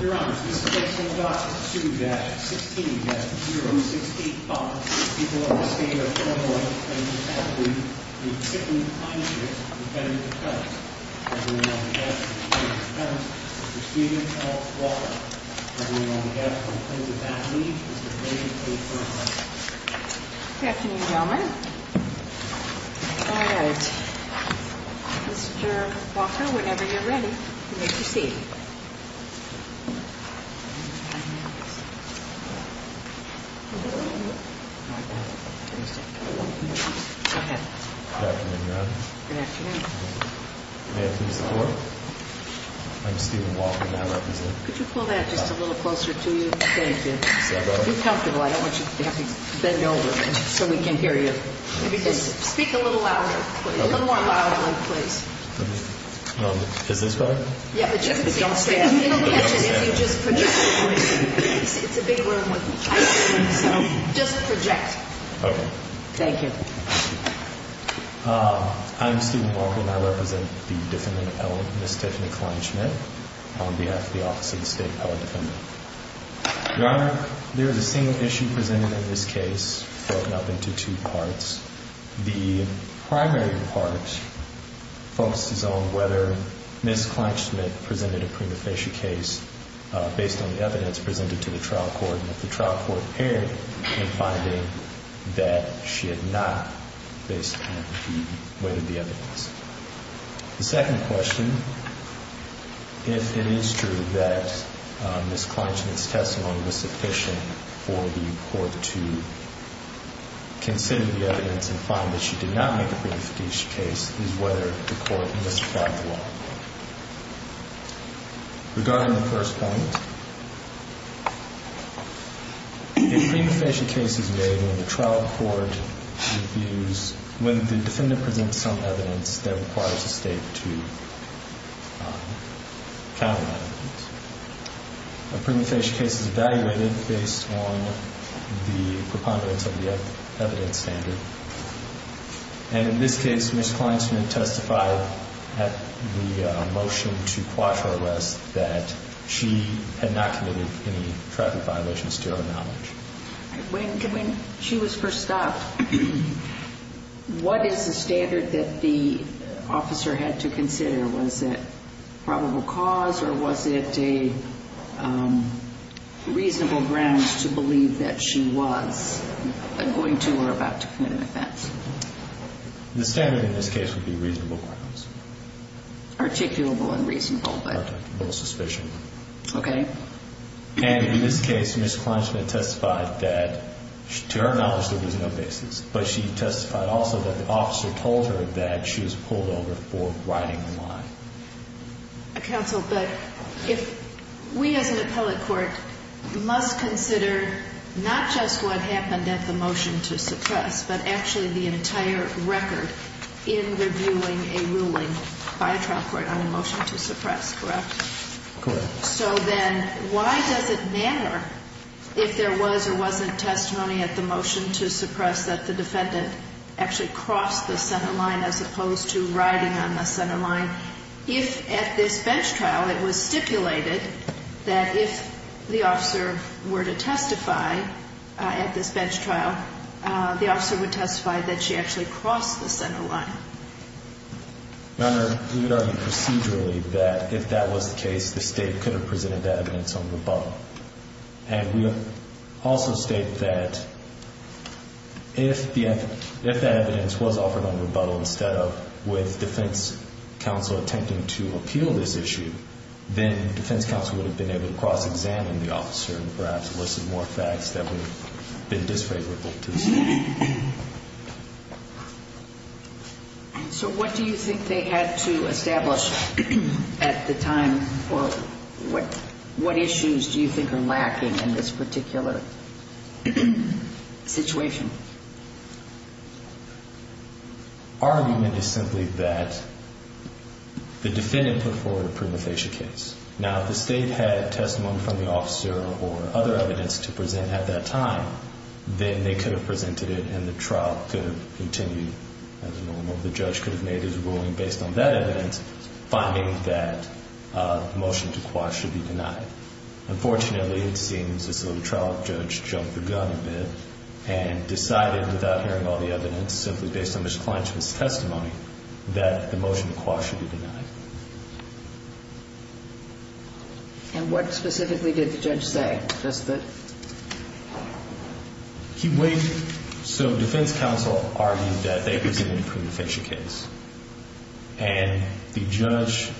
Your Honor, this case will be brought to you at 16-0685. The people of the State of Illinois claim to have been the second Kleinschmidt defendant of the case. I bring you now the death of the plaintiff's husband, Mr. Stephen F. Walker. I bring you now the death of the plaintiff's athlete, Mr. David A. Furness. Good afternoon, gentlemen. All right. Mr. Walker, whenever you're ready, you may proceed. Good afternoon, Your Honor. Good afternoon. May I please have the floor? I'm Stephen Walker, and I represent... Could you pull that just a little closer to you? Thank you. If you're comfortable, I don't want you to have to bend over so we can hear you. Maybe just speak a little louder, a little more loudly, please. Is this better? Yeah, but just don't stand. You don't catch it if you just project. It's a big room. Just project. Okay. Thank you. I'm Stephen Walker, and I represent the defendant, Ms. Tiffany Kleinschmidt, on behalf of the Office of the State of Illinois Defendant. Your Honor, there is a single issue presented in this case, broken up into two parts. The primary part focuses on whether Ms. Kleinschmidt presented a prima facie case based on the evidence presented to the trial court, and if the trial court erred in finding that she had not based on the evidence. The second question, if it is true that Ms. Kleinschmidt's testimony was sufficient for the court to consider the evidence and find that she did not make a prima facie case, is whether the court misapplied the law. Regarding the first point, if a prima facie case is made when the trial court reviews, when the defendant presents some evidence that requires the state to counter that evidence, a prima facie case is evaluated based on the preponderance of the evidence standard. And in this case, Ms. Kleinschmidt testified at the motion to quash her arrest that she had not committed any traffic violations to her knowledge. When she was first stopped, what is the standard that the officer had to consider? Was it probable cause, or was it a reasonable grounds to believe that she was going to or about to commit an offense? The standard in this case would be reasonable grounds. Articulable and reasonable, but... Articulable suspicion. Okay. And in this case, Ms. Kleinschmidt testified that, to her knowledge, there was no basis, but she testified also that the officer told her that she was pulled over for riding the line. Counsel, but if we as an appellate court must consider not just what happened at the motion to suppress, but actually the entire record in reviewing a ruling by a trial court on a motion to suppress, correct? Correct. So then why does it matter if there was or wasn't testimony at the motion to suppress that the defendant actually crossed the center line as opposed to riding on the center line, if at this bench trial it was stipulated that if the officer were to testify at this bench trial, the officer would testify that she actually crossed the center line? Your Honor, we would argue procedurally that if that was the case, the State could have presented that evidence on rebuttal. And we would also state that if the evidence was offered on rebuttal instead of with defense counsel attempting to appeal this issue, then defense counsel would have been able to cross-examine the officer and perhaps elicit more facts that would have been disfavorable to the State. So what do you think they had to establish at the time or what issues do you think are lacking in this particular situation? Our argument is simply that the defendant put forward a prima facie case. Now, if the State had testimony from the officer or other evidence to present at that time, then they could have presented it and the trial could have continued as normal. The judge could have made his ruling based on that evidence, finding that the motion to cross should be denied. Unfortunately, it seems as though the trial judge jumped the gun a bit and decided without hearing all the evidence, simply based on his client's testimony, that the motion to cross should be denied. And what specifically did the judge say? He waived. So defense counsel argued that they presented a prima facie case. And the judge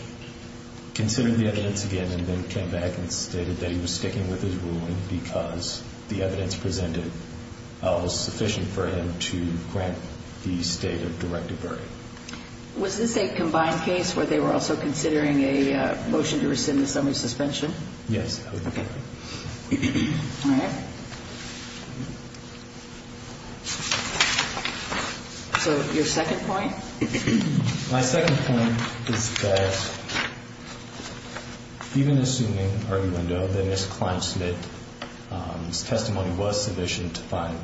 considered the evidence again and then came back and stated that he was sticking with his ruling because the evidence presented was sufficient for him to grant the State a directive verdict. Was this a combined case where they were also considering a motion to rescind the summary suspension? Yes. Okay. All right. So your second point? My second point is that even assuming argument, that this client's testimony was sufficient to find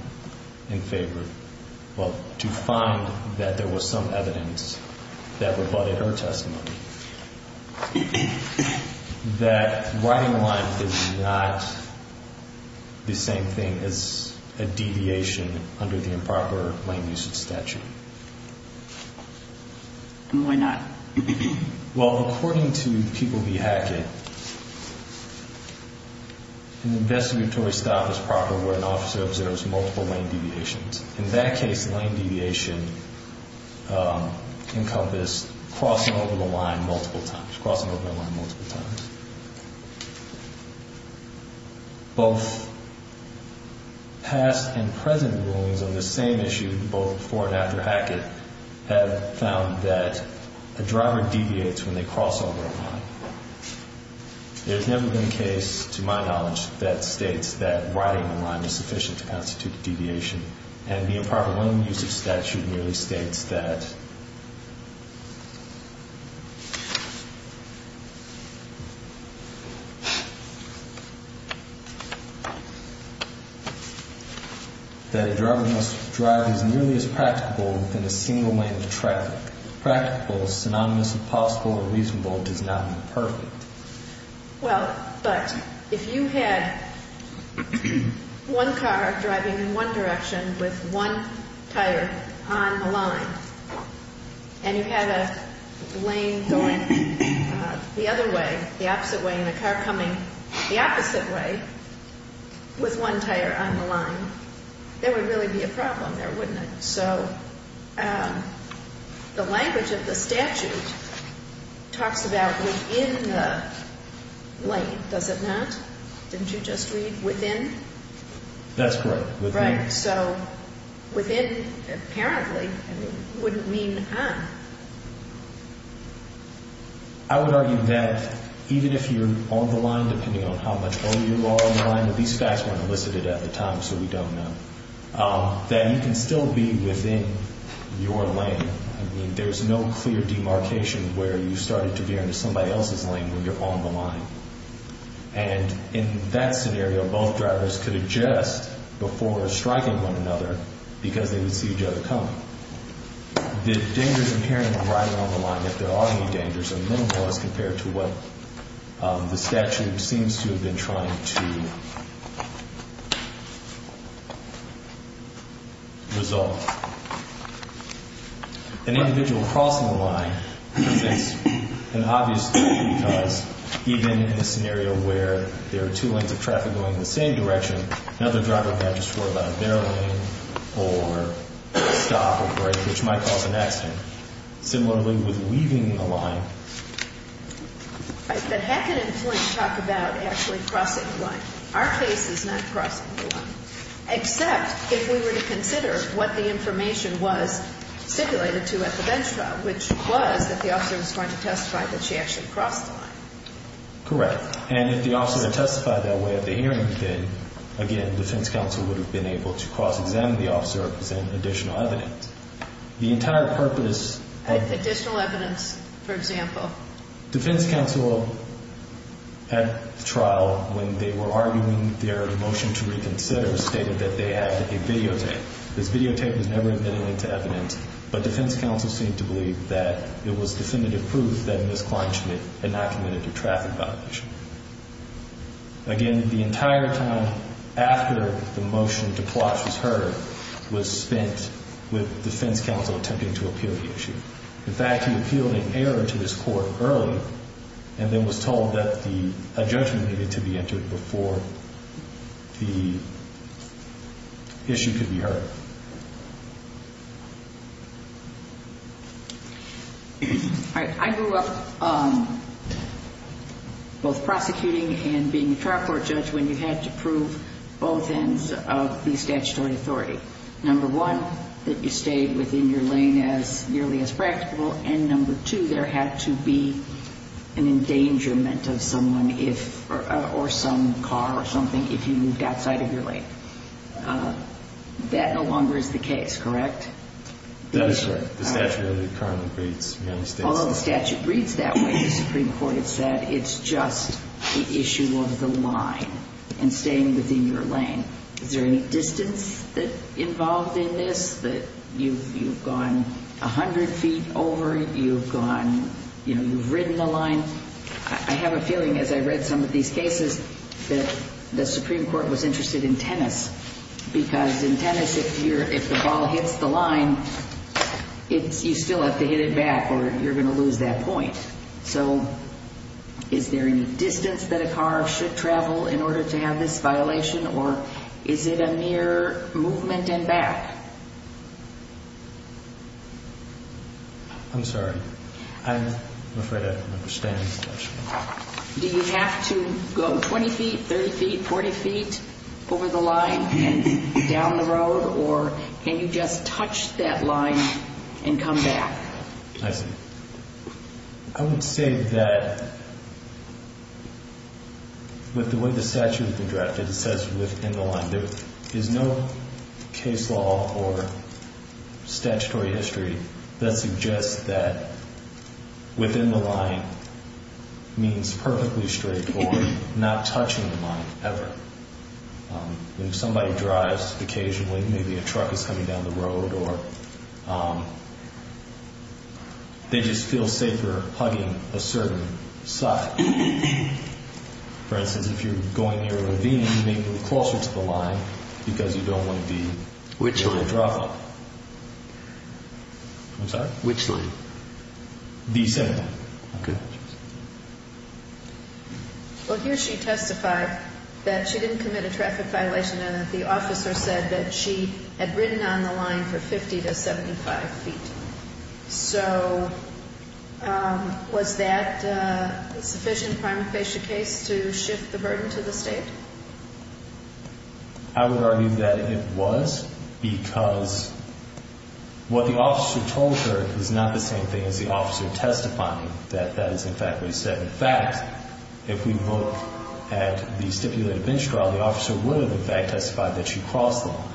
in favor, well, to find that there was some evidence that rebutted her testimony, that right in the line is not the same thing as a deviation under the improper lane usage statute. And why not? Well, according to People v. Hackett, an investigatory stop is proper where an officer observes multiple lane deviations. In that case, the lane deviation encompassed crossing over the line multiple times, crossing over the line multiple times. Both past and present rulings on this same issue, both before and after Hackett, have found that a driver deviates when they cross over a line. There has never been a case, to my knowledge, that states that righting the line is sufficient to constitute a deviation, and the improper lane usage statute merely states that a driver must drive as nearly as practicable within a single lane of traffic. Practical, synonymous with possible or reasonable, does not mean perfect. Well, but if you had one car driving in one direction with one tire on the line, and you had a lane going the other way, the opposite way, and a car coming the opposite way with one tire on the line, there would really be a problem there, wouldn't it? So the language of the statute talks about within the lane, does it not? Didn't you just read within? That's correct, within. So within, apparently, wouldn't mean on. I would argue that even if you're on the line, depending on how much older you are on the line, that these facts weren't elicited at the time, so we don't know, that you can still be within your lane. I mean, there's no clear demarcation where you started to be on somebody else's lane when you're on the line. And in that scenario, both drivers could adjust before striking one another because they would see each other coming. The dangers in carrying a driver on the line, if there are any dangers, are minimal as compared to what the statute seems to have been trying to resolve. An individual crossing the line presents an obvious issue because even in a scenario where there are two lanes of traffic going in the same direction, another driver can't just worry about a barrel lane or stop or break, which might cause an accident. Similarly with weaving the line. Right. But Hackett and Flint talk about actually crossing the line. Our case is not crossing the line, except if we were to consider what the information was stipulated to at the bench trial, which was that the officer was going to testify that she actually crossed the line. Correct. And if the officer had testified that way at the hearing, then, again, defense counsel would have been able to cross-examine the officer or present additional evidence. The entire purpose of... Additional evidence, for example. Defense counsel at the trial, when they were arguing their motion to reconsider, stated that they had a videotape. This videotape was never admittedly to evidence, but defense counsel seemed to believe that it was definitive proof that Ms. Klein had not committed a traffic violation. Again, the entire time after the motion to plot was heard was spent with defense counsel attempting to appeal the issue. In fact, he appealed in error to his court early and then was told that a judgment needed to be entered before the issue could be heard. I grew up both prosecuting and being a trial court judge when you had to prove both ends of the statutory authority. Number one, that you stayed within your lane as nearly as practicable, and number two, there had to be an endangerment of someone or some car or something if you moved outside of your lane. That no longer is the case, correct? That is correct. The statute currently reads United States... Although the statute reads that way, the Supreme Court has said it's just the issue of the line and staying within your lane. Is there any distance involved in this? You've gone 100 feet over, you've ridden the line. I have a feeling as I've read some of these cases that the Supreme Court was interested in tennis because in tennis, if the ball hits the line, you still have to hit it back or you're going to lose that point. So is there any distance that a car should travel in order to have this violation or is it a mere movement and back? I'm sorry. I'm afraid I don't understand this question. Do you have to go 20 feet, 30 feet, 40 feet over the line and down the road or can you just touch that line and come back? I see. I would say that with the way the statute has been drafted, it says within the line. There is no case law or statutory history that suggests that within the line means perfectly straightforward, not touching the line ever. If somebody drives occasionally, maybe a truck is coming down the road or they just feel safer hugging a certain side. For instance, if you're going near a ravine, you may be closer to the line because you don't want to be in a drop-off. Which lane? I'm sorry? Which lane? The center lane. Okay. Well, here she testified that she didn't commit a traffic violation and that the officer said that she had ridden on the line for 50 to 75 feet. So was that a sufficient prima facie case to shift the burden to the state? I would argue that it was because what the officer told her is not the same thing as the officer testifying, that that is in fact what he said. In fact, if we look at the stipulated bench trial, the officer would have, in fact, testified that she crossed the line.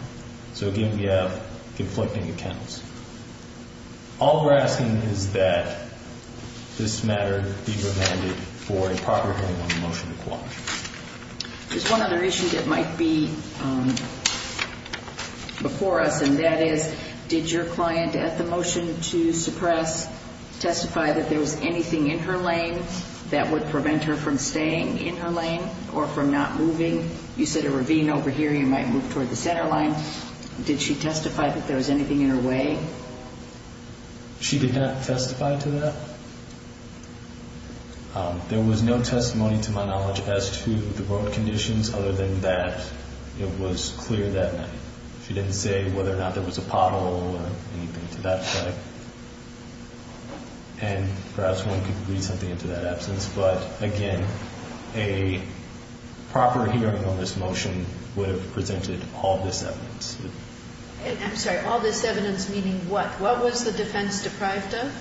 So, again, we have conflicting accounts. All we're asking is that this matter be prevented for a proper hearing on the motion to quash. There's one other issue that might be before us, and that is did your client at the motion to suppress testify that there was anything in her lane that would prevent her from staying in her lane or from not moving? You said a ravine over here, you might move toward the center line. Did she testify that there was anything in her way? She did not testify to that. There was no testimony, to my knowledge, as to the road conditions other than that. It was clear that she didn't say whether or not there was a pothole or anything to that effect. And perhaps one could read something into that absence. But, again, a proper hearing on this motion would have presented all this evidence. I'm sorry, all this evidence meaning what? What was the defense deprived of?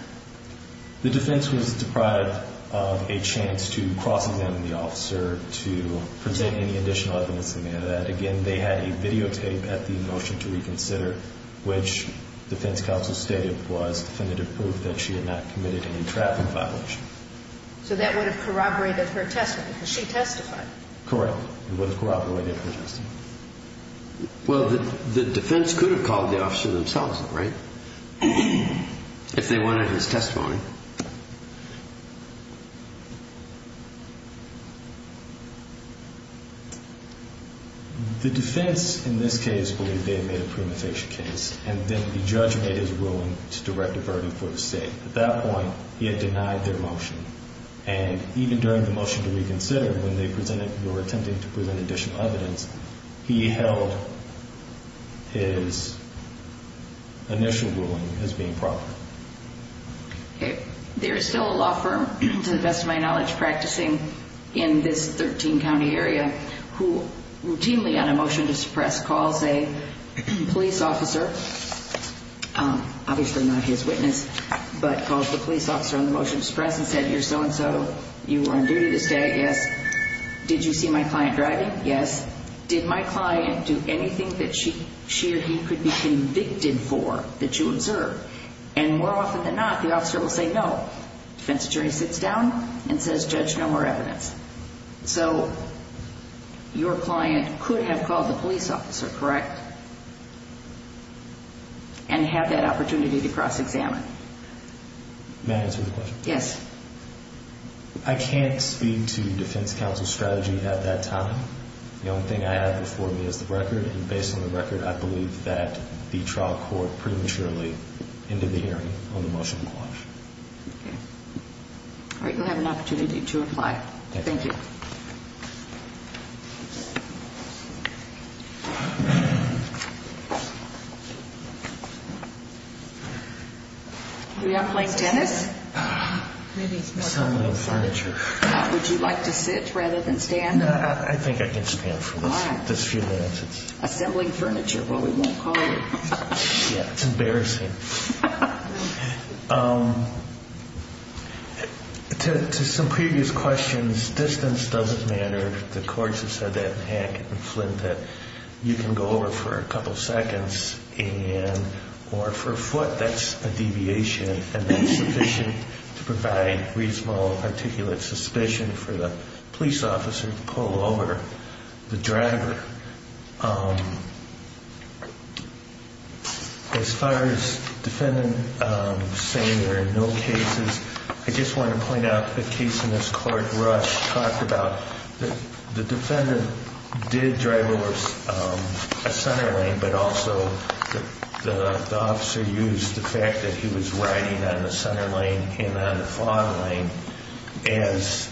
The defense was deprived of a chance to cross-examine the officer, to present any additional evidence that may have that. Again, they had a videotape at the motion to reconsider, which defense counsel stated was definitive proof that she had not committed any traffic violations. So that would have corroborated her testimony because she testified. Correct. It would have corroborated her testimony. Well, the defense could have called the officer themselves, right, if they wanted his testimony. The defense, in this case, believed they had made a premonition case, and then the judge made his ruling to direct a verdict for the state. At that point, he had denied their motion. And even during the motion to reconsider, when they were attempting to present additional evidence, he held his initial ruling as being proper. There is still a law firm, to the best of my knowledge, practicing in this 13-county area who routinely on a motion to suppress calls a police officer, obviously not his witness, but calls the police officer on the motion to suppress and said, you're so-and-so, you were on duty this day, yes. Did you see my client driving? Yes. Did my client do anything that she or he could be convicted for that you observed? And more often than not, the officer will say no. Defense attorney sits down and says, judge, no more evidence. So your client could have called the police officer, correct, and had that opportunity to cross-examine. May I answer the question? Yes. I can't speak to defense counsel's strategy at that time. The only thing I have before me is the record, and based on the record, I believe that the trial court prematurely ended the hearing on the motion to quash. All right. You'll have an opportunity to apply. Thank you. You're not playing tennis? Assembling furniture. Would you like to sit rather than stand? No, I think I can stand for this few minutes. Assembling furniture. Well, we won't call you. Yeah, it's embarrassing. To some previous questions, distance doesn't matter. The courts have said that in Hank and Flint that you can go over for a couple seconds, or for a foot, that's a deviation, and that's sufficient to provide reasonable articulate suspicion for the police officer to pull over the driver. As far as defendant saying there are no cases, I just want to point out a case in this court Rush talked about. The defendant did drive over a center lane, but also the officer used the fact that he was riding on the center lane and on the fog lane as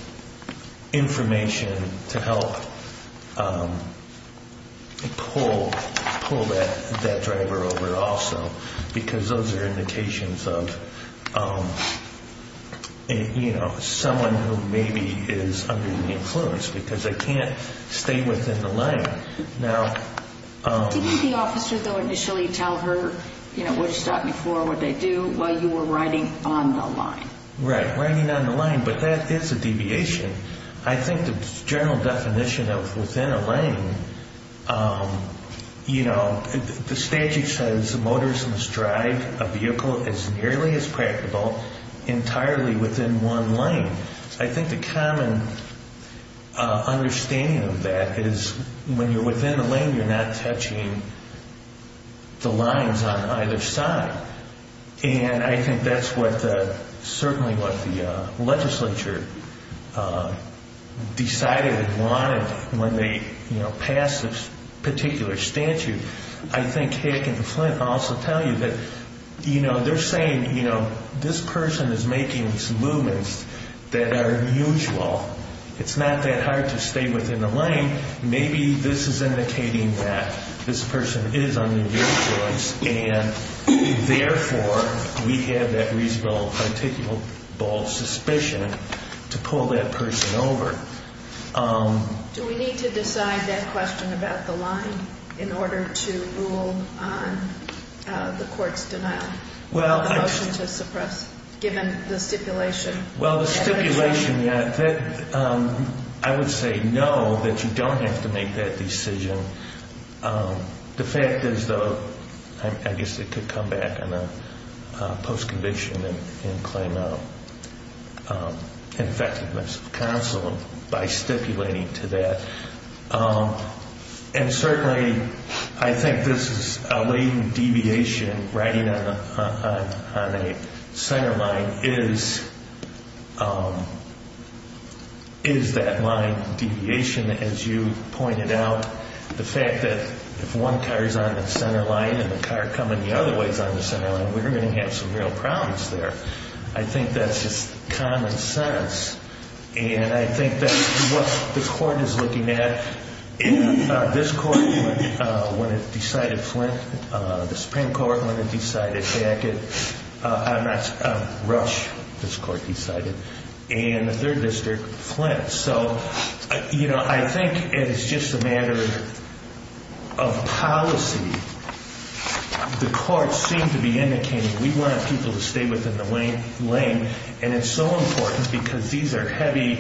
information to help pull that driver over also, because those are indications of someone who maybe is under the influence, because they can't stay within the lane. Didn't the officer, though, initially tell her what she's stopping for, what they do, while you were riding on the line? Right, riding on the line, but that is a deviation. I think the general definition of within a lane, you know, the statute says a motorist must drive a vehicle as nearly as practicable entirely within one lane. I think the common understanding of that is when you're within a lane, you're not touching the lines on either side, and I think that's certainly what the legislature decided and wanted when they passed this particular statute. I think Hick and Flint also tell you that, you know, they're saying, you know, this person is making some movements that are unusual. It's not that hard to stay within the lane. Maybe this is indicating that this person is under the influence, and therefore we have that reasonable articulable suspicion to pull that person over. Do we need to decide that question about the line in order to rule on the court's denial of the motion to suppress, given the stipulation? Well, the stipulation, I would say no, that you don't have to make that decision. The fact is, though, I guess it could come back in a post-conviction and claim of infectedness of counsel by stipulating to that, and certainly I think this is a latent deviation. Riding on a center line is that line deviation, as you pointed out. The fact that if one car is on the center line and the car coming the other way is on the center line, we're going to have some real problems there. I think that's just common sense, and I think that's what the court is looking at. This court, when it decided Flint, the Supreme Court, when it decided Hackett, Rush, this court decided, and the third district, Flint. I think it's just a matter of policy. The courts seem to be indicating we want people to stay within the lane, and it's so important because these are heavy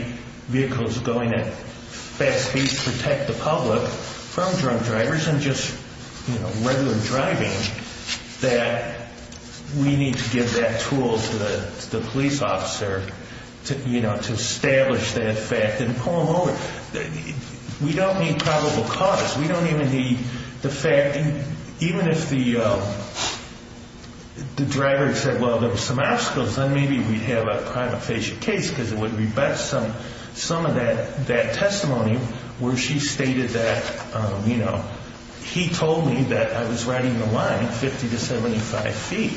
vehicles going at fast pace to protect the public from drunk drivers and just regular driving that we need to give that tool to the police officer to establish that fact and pull them over. We don't need probable cause. We don't even need the fact. Even if the driver said, well, there were some obstacles, then maybe we'd have a crime of facial case because it would rebut some of that testimony where she stated that, you know, he told me that I was riding the line 50 to 75 feet.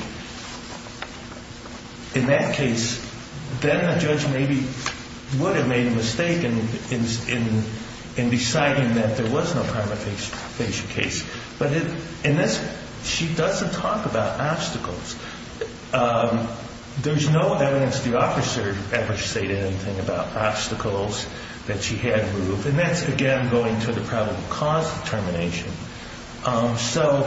In that case, then a judge maybe would have made a mistake in deciding that there was no crime of facial case. But in this, she doesn't talk about obstacles. There's no evidence the officer ever stated anything about obstacles that she had moved, and that's, again, going to the probable cause determination. So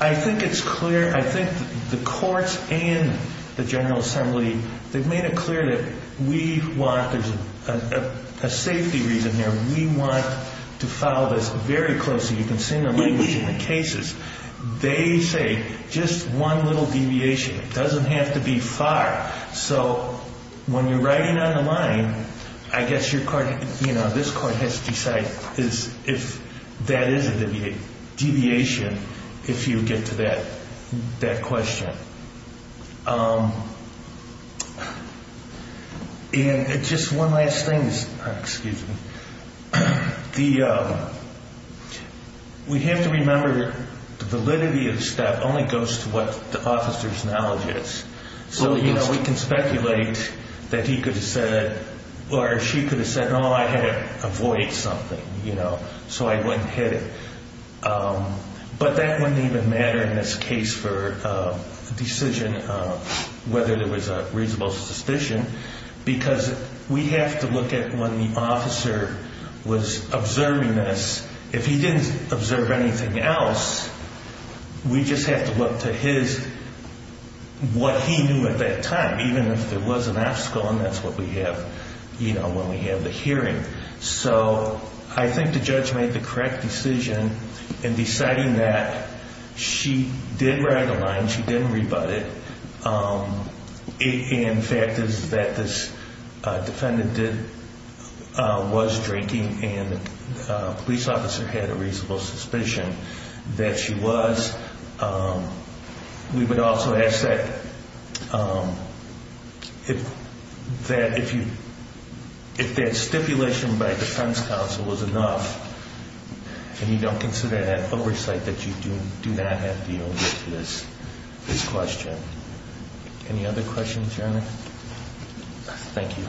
I think it's clear. I think the courts and the General Assembly, they've made it clear that we want a safety reason there. We want to follow this very closely. You can see in the language in the cases. They say just one little deviation. It doesn't have to be far. So when you're riding on the line, I guess your court, you know, this court has to decide if that is a deviation if you get to that question. And just one last thing. Excuse me. We have to remember that the validity of the staff only goes to what the officer's knowledge is. So, you know, we can speculate that he could have said or she could have said, oh, I had to avoid something, you know, so I wouldn't hit it. But that wouldn't even matter in this case for a decision of whether there was a reasonable suspicion because we have to look at when the officer was observing us. If he didn't observe anything else, we just have to look to his, what he knew at that time, even if there was an obstacle and that's what we have, you know, when we have the hearing. So I think the judge made the correct decision in deciding that she did ride the line. She didn't rebut it. In fact, is that this defendant did, was drinking and the police officer had a reasonable suspicion that she was. We would also ask that if that, if you, if that stipulation by defense counsel was enough and you don't consider that oversight, that you do not have to deal with this question. Any other questions, Your Honor? Thank you.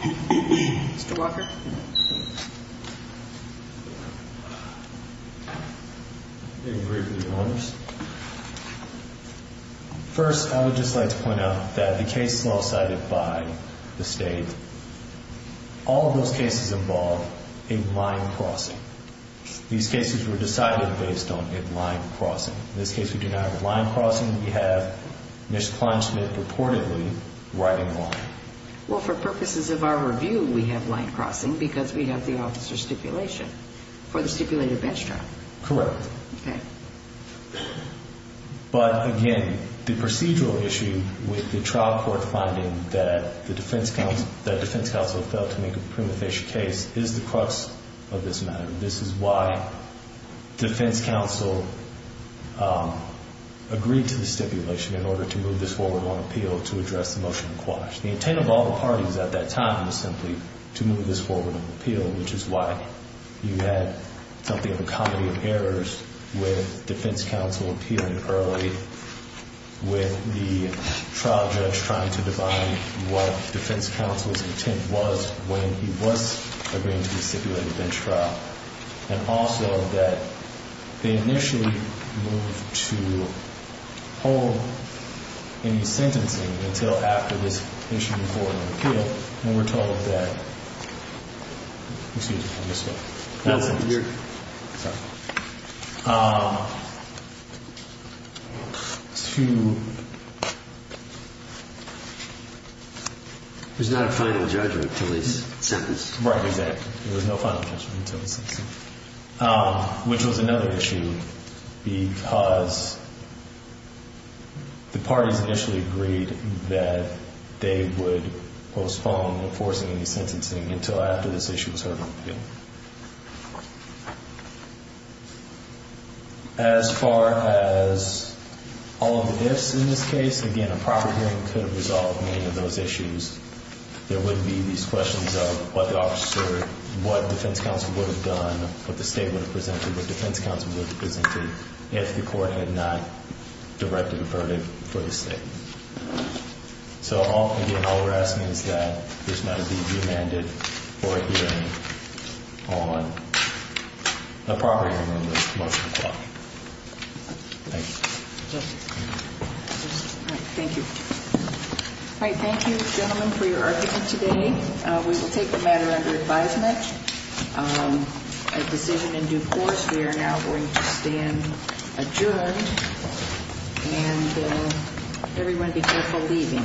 Mr. Walker. First, I would just like to point out that the case law cited by the state, all of those cases involve a line crossing. These cases were decided based on a line crossing. In this case, we do not have a line crossing. We have Ms. Kleinsmith reportedly riding a line. Well, for purposes of our review, we have line crossing because we have the officer stipulation for the stipulated bench trial. Correct. Okay. But again, the procedural issue with the trial court finding that the defense counsel, that defense counsel failed to make a prima facie case is the crux of this matter. This is why defense counsel agreed to the stipulation in order to move this forward on appeal to address the motion in quash. The intent of all the parties at that time was simply to move this forward on appeal, which is why you had something of a comedy of errors with defense counsel appealing early, with the trial judge trying to define what defense counsel's intent was when he was agreeing to the stipulated bench trial, and also that they initially moved to hold any sentencing until after this issue was reported on appeal, when we're told that, excuse me, I missed something. Yes, you're. Sorry. To. There's not a final judgment until it's sentenced. Right, exactly. There was no final judgment until it's sentenced, which was another issue, because the parties initially agreed that they would postpone enforcing any sentencing until after this issue was heard on appeal. As far as all of the ifs in this case, again, a proper hearing could have resolved many of those issues. There wouldn't be these questions of what the officer, what defense counsel would have done, what the state would have presented, what defense counsel would have presented, if the court had not directed a verdict for the state. So, again, all we're asking is that there's not a deed remanded for a hearing on a proper hearing on the motion to quash. Thank you. Thank you. All right. Thank you, gentlemen, for your argument today. We will take the matter under advisement. A decision in due course. We are now going to stand adjourned. And everyone be careful leaving.